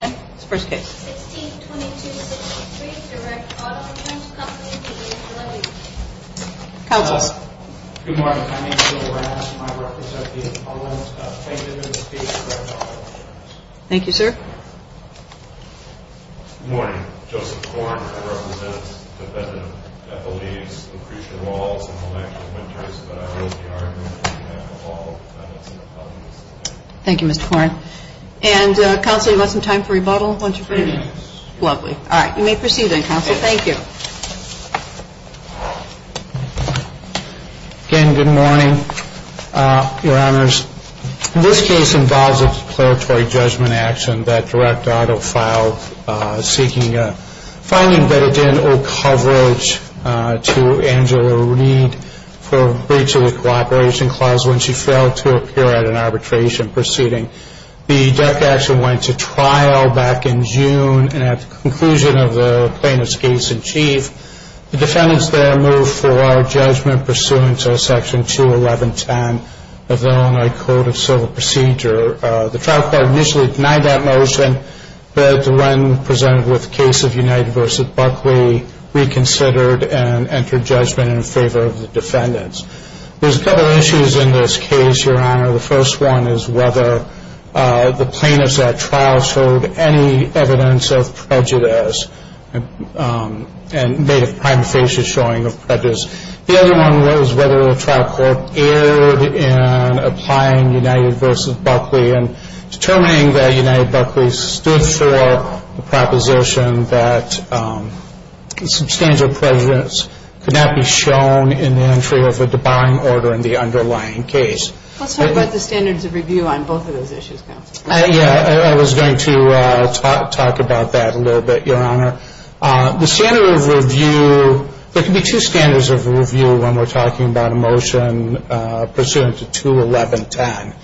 162263, Direct Auto Returns Company, D.C. 116. Good morning. My name is Bill Rasm. I represent the Appellant's Company. Thank you for your time. Thank you, sir. Good morning. Joseph Korn. I represent the defendant that believes Lucretia Walls in the election winters. But I raise the argument that we have to follow the defendant's appellate's opinion. Thank you, Mr. Korn. And, Counselor, do you have some time for rebuttal? Yes. Lovely. All right. You may proceed then, Counselor. Thank you. Again, good morning, Your Honors. This case involves a declaratory judgment action that Direct Auto filed seeking a finding that it didn't owe coverage to Angela Reed for breach of the cooperation clause when she failed to appear at an arbitration proceeding. The death action went to trial back in June, and at the conclusion of the plaintiff's case in chief, the defendants there moved for judgment pursuant to Section 21110 of the Illinois Code of Civil Procedure. The trial court initially denied that motion, but when presented with the case of United v. Buckley, they reconsidered and entered judgment in favor of the defendants. There's a couple issues in this case, Your Honor. The first one is whether the plaintiffs at trial showed any evidence of prejudice and made a prima facie showing of prejudice. The other one was whether the trial court erred in applying United v. Buckley and determining that United v. Buckley stood for the proposition that substantial prejudice could not be shown in the entry of a debarring order in the underlying case. Let's talk about the standards of review on both of those issues, Counselor. Yeah, I was going to talk about that a little bit, Your Honor. The standard of review, there can be two standards of review when we're talking about a motion pursuant to 21110.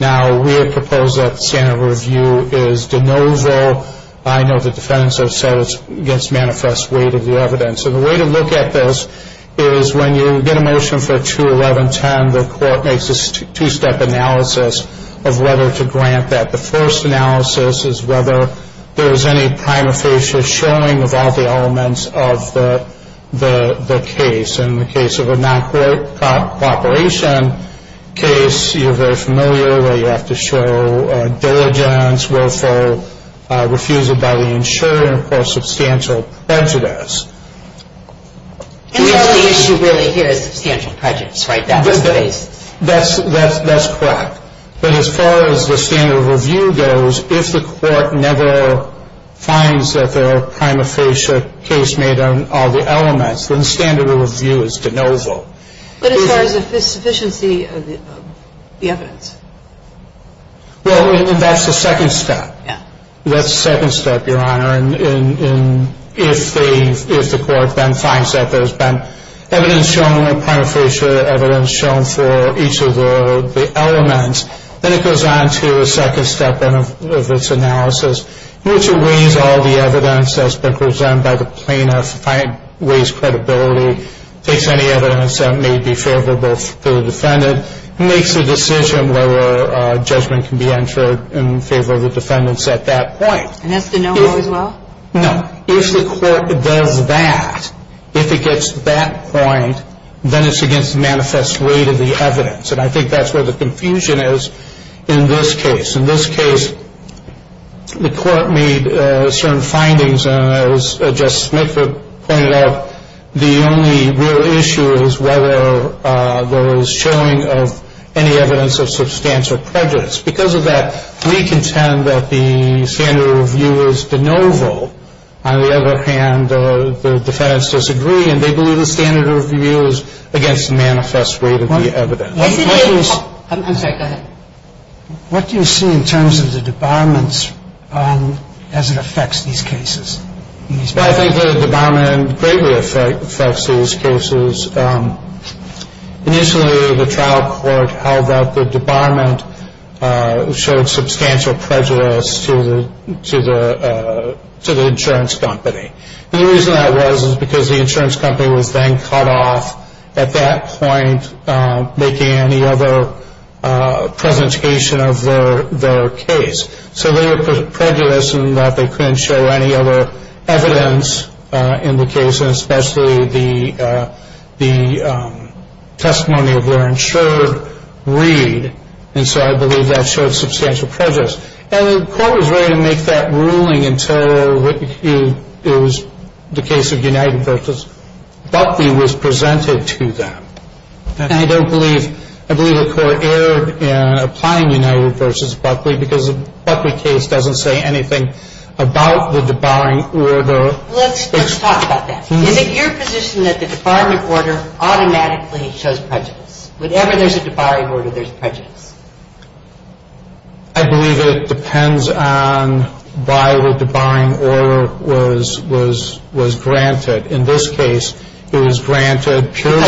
Now, we have proposed that the standard of review is de novo. I know the defendants have said it's against manifest weight of the evidence. And the way to look at this is when you get a motion for 21110, the court makes a two-step analysis of whether to grant that. The first analysis is whether there is any prima facie showing of all the elements of the case. In the case of a non-court cooperation case, you're very familiar that you have to show diligence, willful refusal by the insurer, and, of course, substantial prejudice. And the only issue really here is substantial prejudice, right? That's correct. But as far as the standard of review goes, if the court never finds that there are prima facie case made on all the elements, then the standard of review is de novo. But as far as the sufficiency of the evidence? Well, that's the second step. Yeah. That's the second step, Your Honor. And if the court then finds that there's been evidence shown or prima facie evidence shown for each of the elements, then it goes on to a second step of its analysis, in which it weighs all the evidence that's been presented by the plaintiff, weighs credibility, takes any evidence that may be favorable to the defendant, and makes a decision whether a judgment can be entered in favor of the defendants at that point. And that's de novo as well? No. If the court does that, if it gets to that point, then it's against the manifest rate of the evidence. And I think that's where the confusion is in this case. In this case, the court made certain findings, and as Justice Smith pointed out, the only real issue is whether there was showing of any evidence of substantial prejudice. Because of that, we contend that the standard of review is de novo. On the other hand, the defendants disagree, and they believe the standard of review is against the manifest rate of the evidence. I'm sorry, go ahead. What do you see in terms of the debarments as it affects these cases? Well, I think the debarment greatly affects these cases. Initially, the trial court held that the debarment showed substantial prejudice to the insurance company. And the reason that was is because the insurance company was then cut off at that point, making any other presentation of their case. So they were prejudiced in that they couldn't show any other evidence in the case, especially the testimony of their insured read. And so I believe that showed substantial prejudice. And the court was ready to make that ruling until it was the case of United Purchase. Because Buckley was presented to them. And I don't believe, I believe the court erred in applying United versus Buckley because the Buckley case doesn't say anything about the debarring order. Let's talk about that. Is it your position that the debarment order automatically shows prejudice? Whenever there's a debarring order, there's prejudice. I believe it depends on why the debarring order was granted. In this case, it was granted purely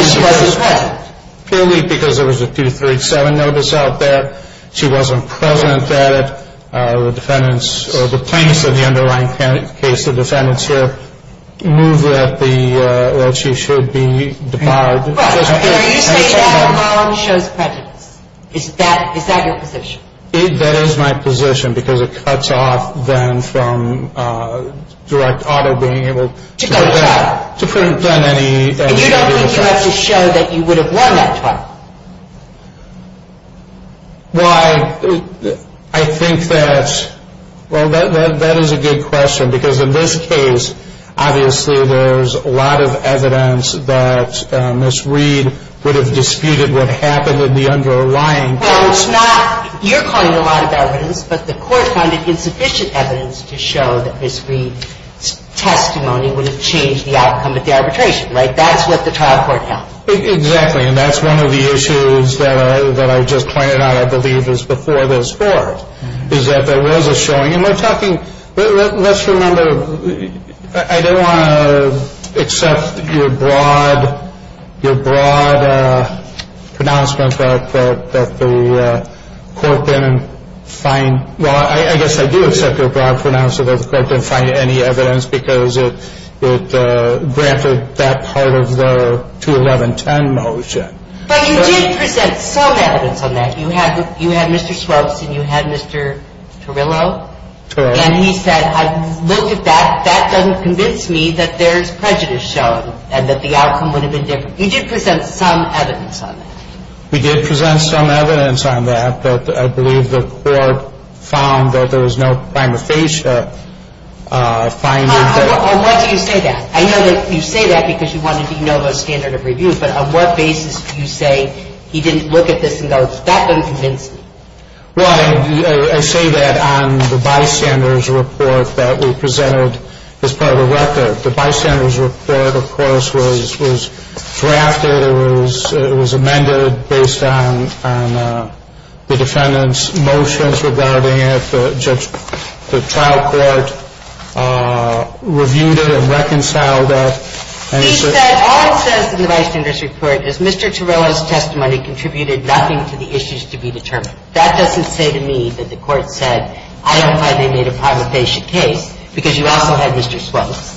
because there was a 237 notice out there. She wasn't present at it. The plaintiffs of the underlying case, the defendants here, moved that she should be debarred. Right. So you say the debarment shows prejudice. Is that your position? That is my position because it cuts off then from direct auto being able to prevent any. And you don't think you have to show that you would have won that trial? Well, I think that, well, that is a good question because in this case, obviously there's a lot of evidence that Ms. Reed would have disputed what happened in the underlying case. Well, it's not. You're calling it a lot of evidence, but the court found it insufficient evidence to show that Ms. Reed's testimony would have changed the outcome of the arbitration. Right? That's what the trial court held. Exactly. And that's one of the issues that I just pointed out, I believe, is before this Court, is that there was a showing, and we're talking, let's remember, I don't want to accept your broad pronouncement that the court didn't find, well, I guess I do accept your broad pronouncement that the court didn't find any evidence because it granted that part of the 21110 motion. But you did present some evidence on that. You had Mr. Swopes and you had Mr. Torillo. Torillo. And he said, I looked at that, that doesn't convince me that there's prejudice shown and that the outcome would have been different. You did present some evidence on that. We did present some evidence on that, but I believe the court found that there was no prima facie finding that On what do you say that? I know that you say that because you wanted to know the standard of review, but on what basis do you say he didn't look at this and go, that doesn't convince me? Well, I say that on the bystander's report that we presented as part of the record. The bystander's report, of course, was drafted. It was amended based on the defendant's motions regarding it. The trial court reviewed it and reconciled it. He said, all it says in the bystander's report is Mr. Torillo's testimony contributed nothing to the issues to be determined. That doesn't say to me that the court said, I don't find they made a prima facie case, because you also had Mr. Schultz.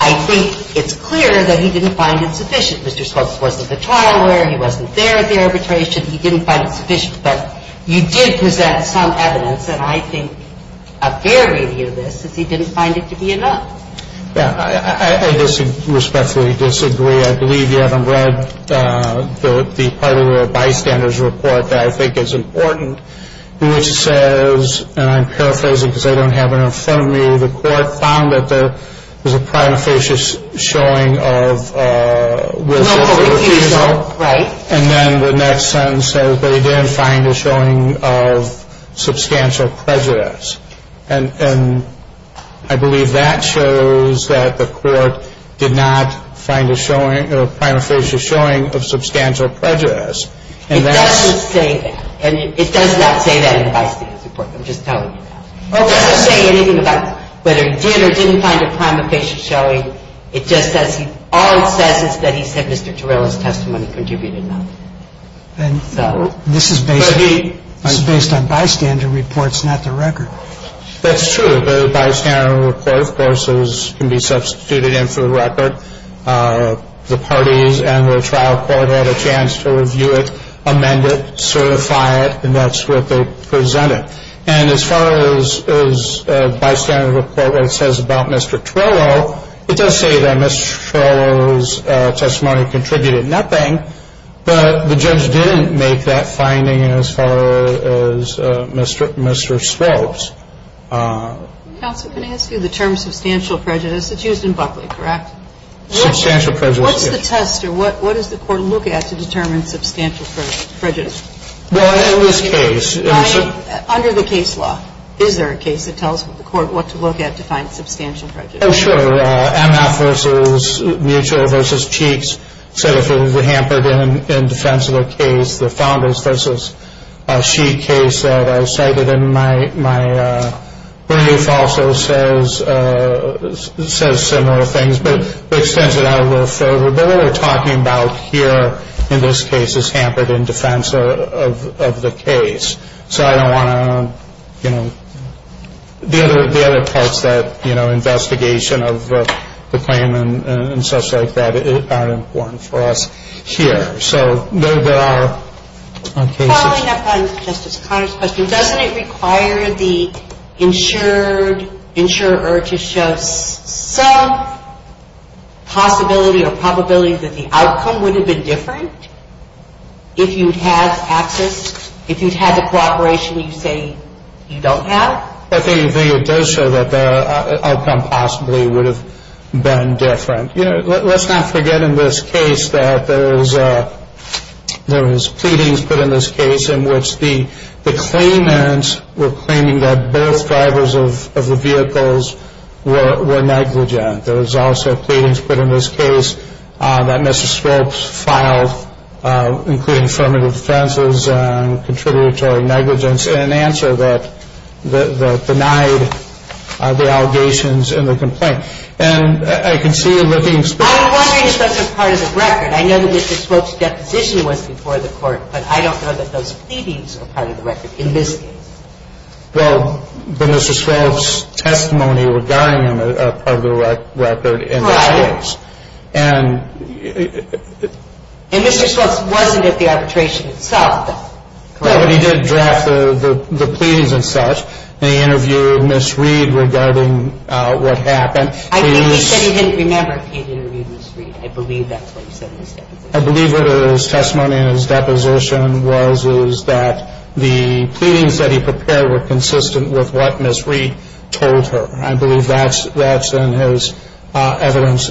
I think it's clear that he didn't find it sufficient. Mr. Schultz wasn't the trial lawyer. He wasn't there at the arbitration. He didn't find it sufficient. But you did present some evidence, and I think a fair review of this, is he didn't find it to be enough. Yeah. I respectfully disagree. I believe you haven't read the part of the bystander's report that I think is important, which says, and I'm paraphrasing because I don't have it in front of me, the court found that there was a prima facie showing of willful refusal. Right. And then the next sentence says they did find a showing of substantial prejudice. And I believe that shows that the court did not find a showing, a prima facie showing of substantial prejudice. It doesn't say that. And it does not say that in the bystander's report. I'm just telling you now. It doesn't say anything about whether he did or didn't find a prima facie showing. It just says, all it says is that he said Mr. Torello's testimony contributed nothing. And this is based on bystander reports, not the record. That's true. The bystander report, of course, can be substituted in for the record. The parties and the trial court had a chance to review it, amend it, certify it, and that's what they presented. And as far as a bystander report that says about Mr. Torello, it does say that Mr. Torello's testimony contributed nothing. But the judge didn't make that finding as far as Mr. Strobes. Counsel, can I ask you the term substantial prejudice? It's used in Buckley, correct? Substantial prejudice, yes. What's the test or what does the court look at to determine substantial prejudice? Well, in this case. Under the case law, is there a case that tells the court what to look at to find substantial prejudice? Oh, sure. MF v. Mutual v. Cheeks said if it was hampered in defense of a case, the Founders v. Sheik case that I cited in my brief also says similar things. But it extends it out a little further. But what we're talking about here in this case is hampered in defense of the case. So I don't want to, you know, the other parts that, you know, investigation of the claimant and stuff like that aren't important for us here. So there are cases. Following up on Justice Conner's question, doesn't it require the insurer to show some possibility or probability that the outcome would have been different if you'd had access, if you'd had the cooperation you say you don't have? I think it does show that the outcome possibly would have been different. You know, let's not forget in this case that there was pleadings put in this case in which the claimants were claiming that both drivers of the vehicles were negligent. There was also pleadings put in this case that Mr. Swope's file, including affirmative defenses and contributory negligence, in answer that denied the allegations in the complaint. And I can see you looking specifically at that. I'm wondering if that's a part of the record. I know that Mr. Swope's deposition was before the Court, but I don't know that those pleadings are part of the record in this case. Well, but Mr. Swope's testimony regarding them are part of the record in this case. And Mr. Swope's wasn't at the arbitration itself, correct? No, but he did draft the pleadings and such, and he interviewed Ms. Reed regarding what happened. He said he didn't remember he interviewed Ms. Reed. I believe that's what he said in his deposition. I believe what his testimony in his deposition was that the pleadings that he prepared were consistent with what Ms. Reed told her. I believe that's in his evidence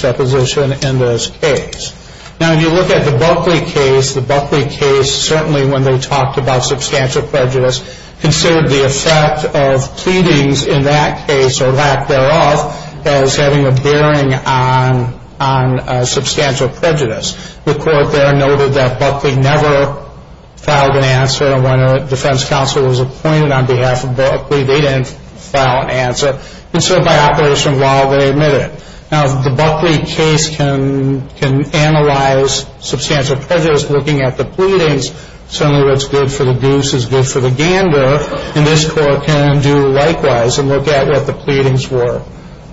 deposition in this case. Now, if you look at the Buckley case, the Buckley case, certainly when they talked about substantial prejudice, considered the effect of pleadings in that case or lack thereof as having a bearing on substantial prejudice. The Court there noted that Buckley never filed an answer. When a defense counsel was appointed on behalf of Buckley, they didn't file an answer. And so by Operation Wild, they admitted it. Now, the Buckley case can analyze substantial prejudice looking at the pleadings. Certainly what's good for the goose is good for the gander, and this Court can do likewise and look at what the pleadings were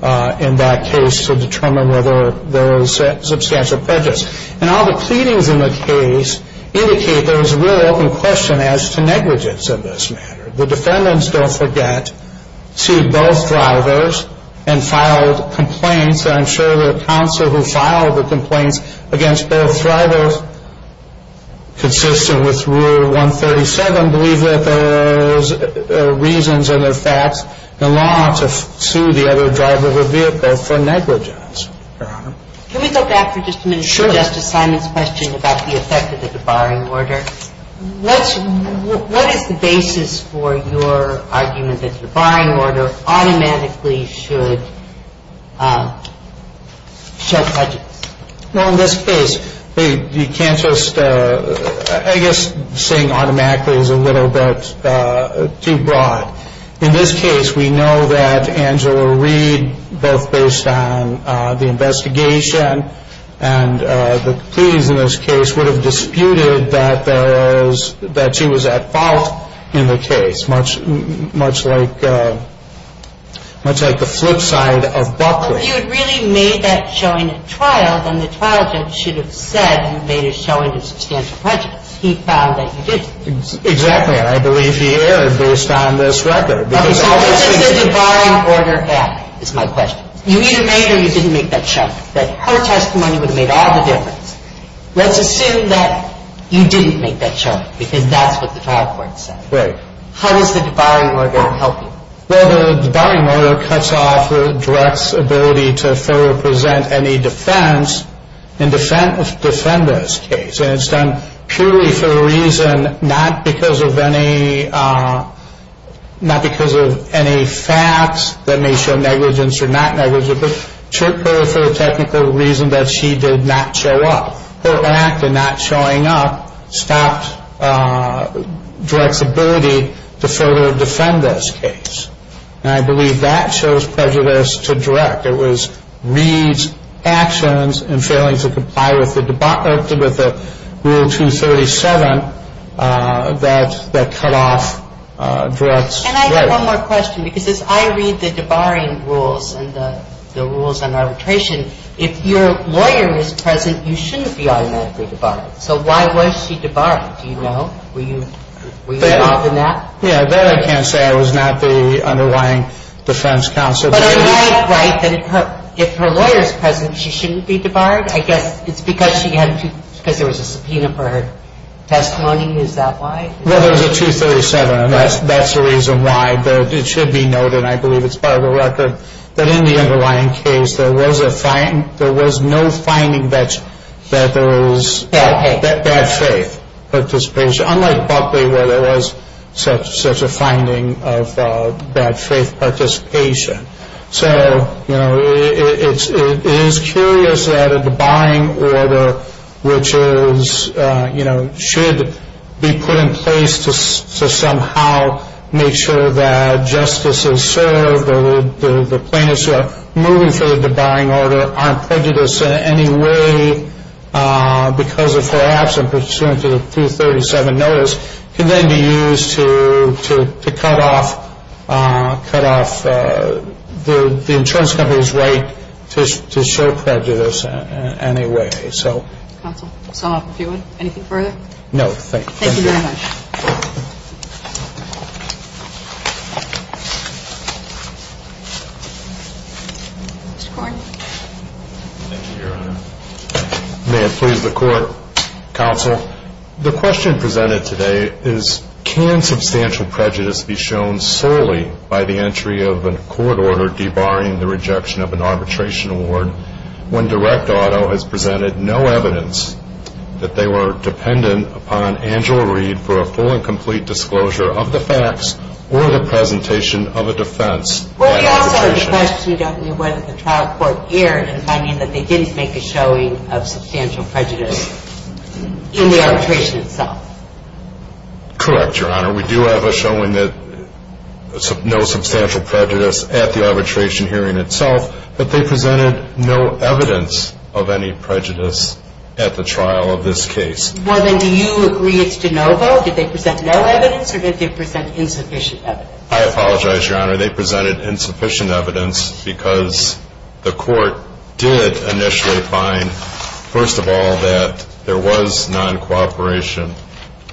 in that case to determine whether there was substantial prejudice. And all the pleadings in the case indicate there was a real open question as to negligence in this matter. The defendants, don't forget, sued both drivers and filed complaints. I'm sure the counsel who filed the complaints against both drivers consistent with Rule 137 and believe that those reasons and their facts allow them to sue the other driver of the vehicle for negligence, Your Honor. Can we go back for just a minute to Justice Simon's question about the effect of the debarring order? What is the basis for your argument that the debarring order automatically should show prejudice? Well, in this case, you can't just, I guess saying automatically is a little bit too broad. In this case, we know that Angela Reed, both based on the investigation and the pleadings in this case would have disputed that she was at fault in the case, much like the flip side of Buckley. If you had really made that showing at trial, then the trial judge should have said you made a showing of substantial prejudice. He found that you didn't. Exactly, and I believe he erred based on this record. How does the debarring order help? That's my question. You either made or you didn't make that showing. Her testimony would have made all the difference. Let's assume that you didn't make that showing because that's what the trial court said. Right. How does the debarring order help you? Well, the debarring order cuts off the direct's ability to further present any defense in defender's case, and it's done purely for a reason not because of any facts that may show negligence or not negligence, but purely for a technical reason that she did not show up. Her act of not showing up stopped direct's ability to further defend this case, and I believe that shows prejudice to direct. It was Reid's actions in failing to comply with the rule 237 that cut off direct's right. And I have one more question because as I read the debarring rules and the rules on arbitration, if your lawyer is present, you shouldn't be automatically debarred. So why was she debarred? Do you know? Were you involved in that? Yeah. That I can't say. I was not the underlying defense counsel. But I might write that if her lawyer is present, she shouldn't be debarred. I guess it's because she had to, because there was a subpoena for her testimony. Is that why? Well, there was a 237, and that's the reason why. But it should be noted, and I believe it's part of the record, that in the underlying case there was no finding that there was bad faith participation, unlike Buckley where there was such a finding of bad faith participation. So, you know, it is curious that a debarring order, which is, you know, should be put in place to somehow make sure that justices served or the plaintiffs who are moving through the debarring order aren't prejudiced in any way because of her absence pursuant to the 237 notice can then be used to cut off the insurance company's right to show prejudice in any way. Counsel, I saw a few. Anything further? No. Thank you. Thank you very much. Mr. Korn. Thank you, Your Honor. May it please the Court, counsel, the question presented today is can substantial prejudice be shown solely by the entry of a court order debarring the rejection of an arbitration award when direct auto has presented no evidence that they were dependent upon Angela Reed for a full and complete disclosure of the facts or the presentation of a defense? Well, you also have to question whether the trial court erred in finding that they didn't make a showing of substantial prejudice in the arbitration itself. Correct, Your Honor. We do have a showing that no substantial prejudice at the arbitration hearing itself, but they presented no evidence of any prejudice at the trial of this case. Well, then do you agree it's de novo? Did they present no evidence or did they present insufficient evidence? I apologize, Your Honor. They presented insufficient evidence because the court did initially find, first of all, that there was noncooperation.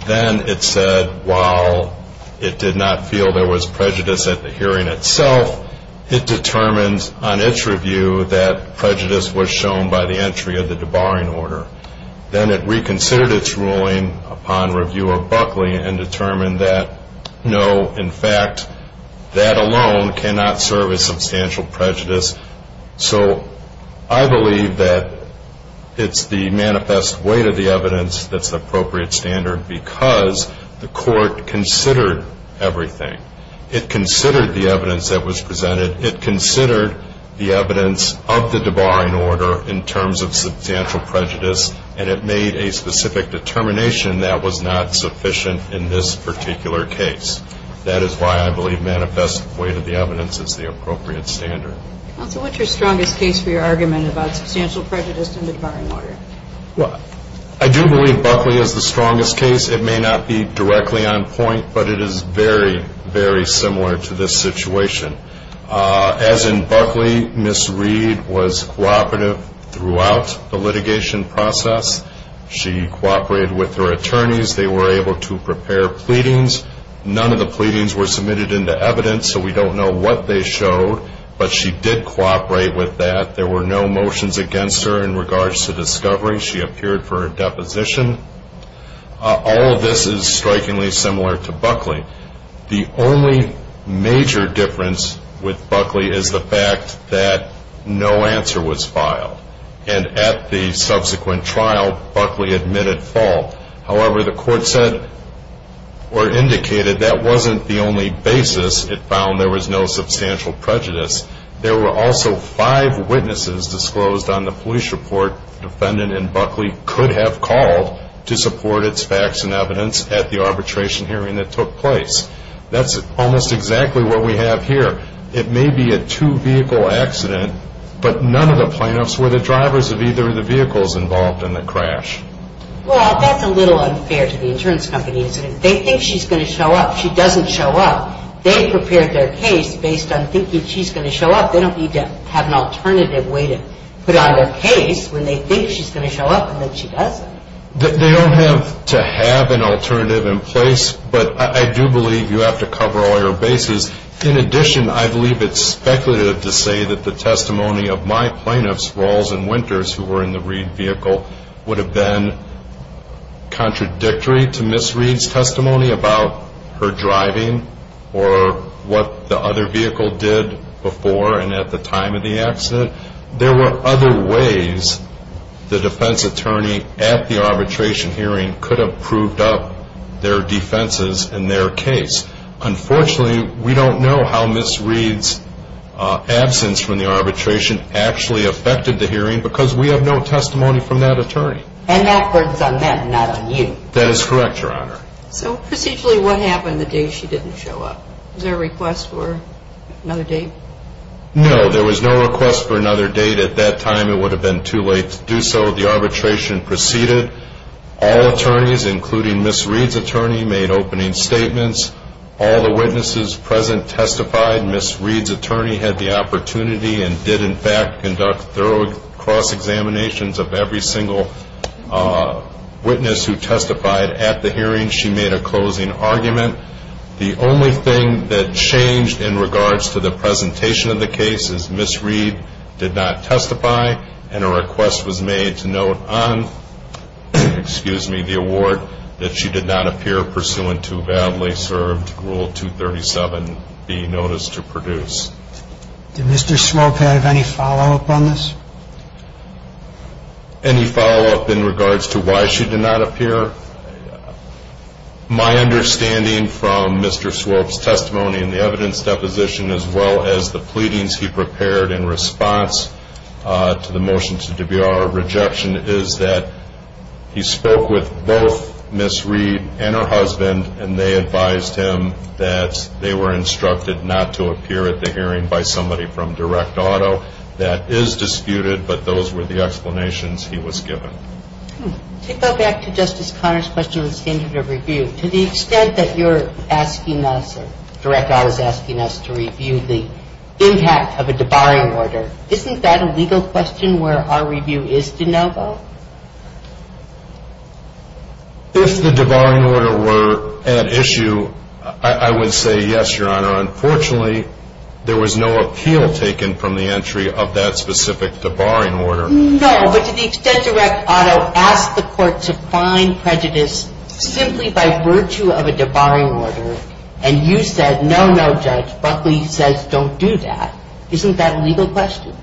Then it said while it did not feel there was prejudice at the hearing itself, it determined on its review that prejudice was shown by the entry of the debarring order. Then it reconsidered its ruling upon review of Buckley and determined that, no, in fact, that alone cannot serve as substantial prejudice. So I believe that it's the manifest weight of the evidence that's the appropriate standard because the court considered everything. It considered the evidence that was presented. It considered the evidence of the debarring order in terms of substantial prejudice, and it made a specific determination that was not sufficient in this particular case. That is why I believe manifest weight of the evidence is the appropriate standard. Counsel, what's your strongest case for your argument about substantial prejudice in the debarring order? Well, I do believe Buckley is the strongest case. It may not be directly on point, but it is very, very similar to this situation. As in Buckley, Ms. Reed was cooperative throughout the litigation process. She cooperated with her attorneys. They were able to prepare pleadings. None of the pleadings were submitted into evidence, so we don't know what they showed, but she did cooperate with that. There were no motions against her in regards to discovery. She appeared for a deposition. All of this is strikingly similar to Buckley. The only major difference with Buckley is the fact that no answer was filed, and at the subsequent trial, Buckley admitted fault. However, the court said or indicated that wasn't the only basis. It found there was no substantial prejudice. There were also five witnesses disclosed on the police report the defendant in Buckley could have called to support its facts and evidence at the arbitration hearing that took place. That's almost exactly what we have here. It may be a two-vehicle accident, but none of the plaintiffs were the drivers of either of the vehicles involved in the crash. Well, that's a little unfair to the insurance company. They think she's going to show up. She doesn't show up. They prepared their case based on thinking she's going to show up. They don't need to have an alternative way to put on their case when they think she's going to show up and then she doesn't. They don't have to have an alternative in place, but I do believe you have to cover all your bases. In addition, I believe it's speculative to say that the testimony of my plaintiffs, Rawls and Winters, who were in the Reed vehicle, would have been contradictory to Ms. Reed's testimony about her driving or what the other vehicle did before and at the time of the accident. There were other ways the defense attorney at the arbitration hearing could have proved up their defenses in their case. Unfortunately, we don't know how Ms. Reed's absence from the arbitration actually affected the hearing because we have no testimony from that attorney. And that burden's on them, not on you. That is correct, Your Honor. So procedurally, what happened the day she didn't show up? Was there a request for another date? No, there was no request for another date. At that time, it would have been too late to do so. The arbitration proceeded. All attorneys, including Ms. Reed's attorney, made opening statements. All the witnesses present testified. Ms. Reed's attorney had the opportunity and did, in fact, conduct thorough cross-examinations of every single witness who testified at the hearing. She made a closing argument. The only thing that changed in regards to the presentation of the case is Ms. Reed did not testify, and a request was made to note on the award that she did not appear pursuant to badly served Rule 237B, Notice to Produce. Did Mr. Swope have any follow-up on this? Any follow-up in regards to why she did not appear? My understanding from Mr. Swope's testimony in the evidence deposition, as well as the pleadings he prepared in response to the motion to debut our rejection, is that he spoke with both Ms. Reed and her husband, and they advised him that they were instructed not to appear at the hearing by somebody from Direct Auto. That is disputed, but those were the explanations he was given. Take us back to Justice Conner's question of the standard of review. To the extent that you're asking us or Direct Auto is asking us to review the impact of a debarring order, isn't that a legal question where our review is de novo? If the debarring order were at issue, I would say yes, Your Honor. Unfortunately, there was no appeal taken from the entry of that specific debarring order. No, but to the extent Direct Auto asked the court to find prejudice simply by virtue of a debarring order, and you said, no, no, Judge, Buckley says don't do that, isn't that a legal question?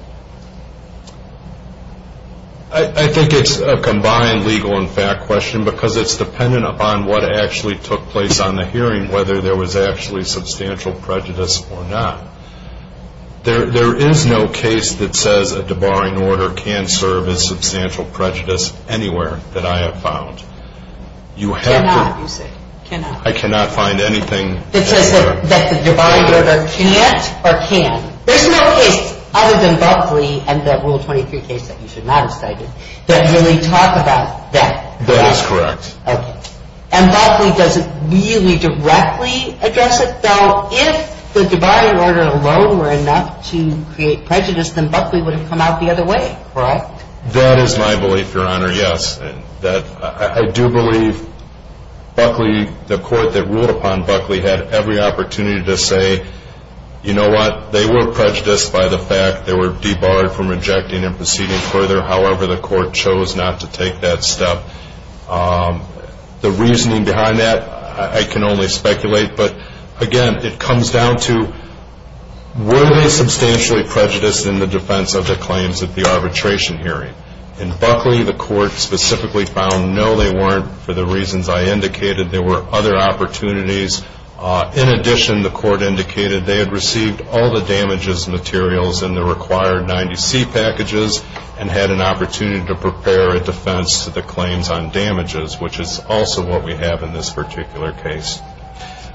I think it's a combined legal and fact question because it's dependent upon what actually took place on the hearing, whether there was actually substantial prejudice or not. There is no case that says a debarring order can serve as substantial prejudice anywhere that I have found. Cannot, you say, cannot. I cannot find anything. That says that the debarring order can't or can. There's no case other than Buckley and the Rule 23 case that you should not have cited that really talk about that. That is correct. Okay. And Buckley doesn't really directly address it. So if the debarring order alone were enough to create prejudice, then Buckley would have come out the other way. Correct. That is my belief, Your Honor, yes. I do believe Buckley, the court that ruled upon Buckley, had every opportunity to say, you know what, they were prejudiced by the fact they were debarred from rejecting and proceeding further. However, the court chose not to take that step. The reasoning behind that, I can only speculate. But, again, it comes down to, were they substantially prejudiced in the defense of their claims at the arbitration hearing? In Buckley, the court specifically found, no, they weren't for the reasons I indicated. There were other opportunities. In addition, the court indicated they had received all the damages materials in the required 90C packages and had an opportunity to prepare a defense to the claims on damages, which is also what we have in this particular case.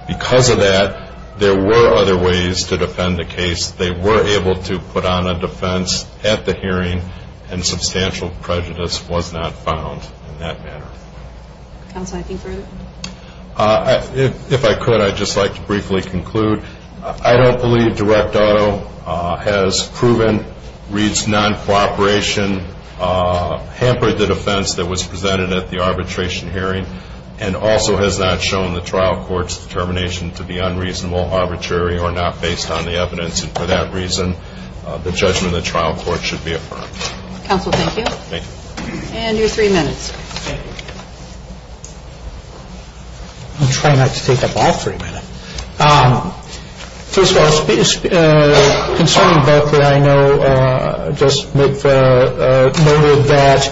Because of that, there were other ways to defend the case. They were able to put on a defense at the hearing, and substantial prejudice was not found in that matter. Counsel, anything further? If I could, I'd just like to briefly conclude. I don't believe direct auto has proven Reed's non-cooperation, hampered the defense that was presented at the arbitration hearing, and also has not shown the trial court's determination to be unreasonable, arbitrary, or not based on the evidence. And for that reason, the judgment of the trial court should be affirmed. Counsel, thank you. Thank you. And your three minutes. I'm trying not to take up all three minutes. First of all, concerning Buckley, I know just noted that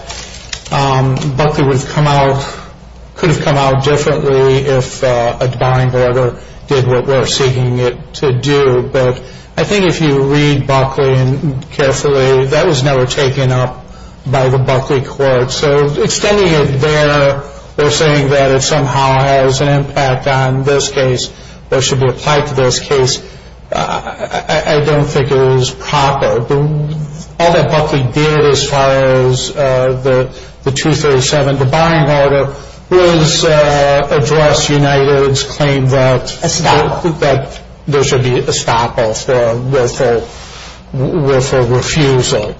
Buckley could have come out differently if a divine order did what we're seeking it to do. But I think if you read Buckley carefully, that was never taken up by the Buckley court. So extending it there, or saying that it somehow has an impact on this case, that it should be applied to this case, I don't think it is proper. All that Buckley did as far as the 237 divine order was address United's claim that there should be estoppel with a refusal.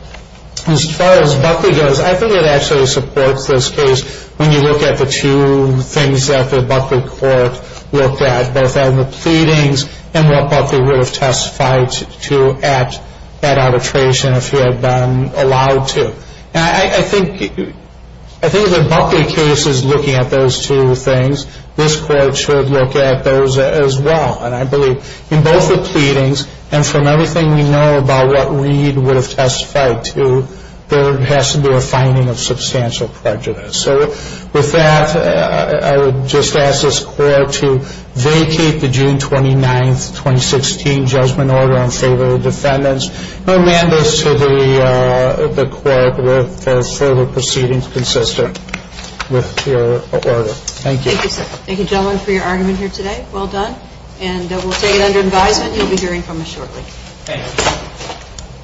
As far as Buckley goes, I think it actually supports this case when you look at the two things that the Buckley court looked at, both on the pleadings and what Buckley would have testified to at that arbitration if he had been allowed to. And I think if the Buckley case is looking at those two things, this court should look at those as well. And I believe in both the pleadings and from everything we know about what Reed would have testified to, there has to be a finding of substantial prejudice. So with that, I would just ask this court to vacate the June 29, 2016 judgment order in favor of the defendants and amend this to the court for further proceedings consistent with your order. Thank you. Thank you, gentlemen, for your argument here today. Well done. And we'll take it under advisement. You'll be hearing from us shortly. Thank you.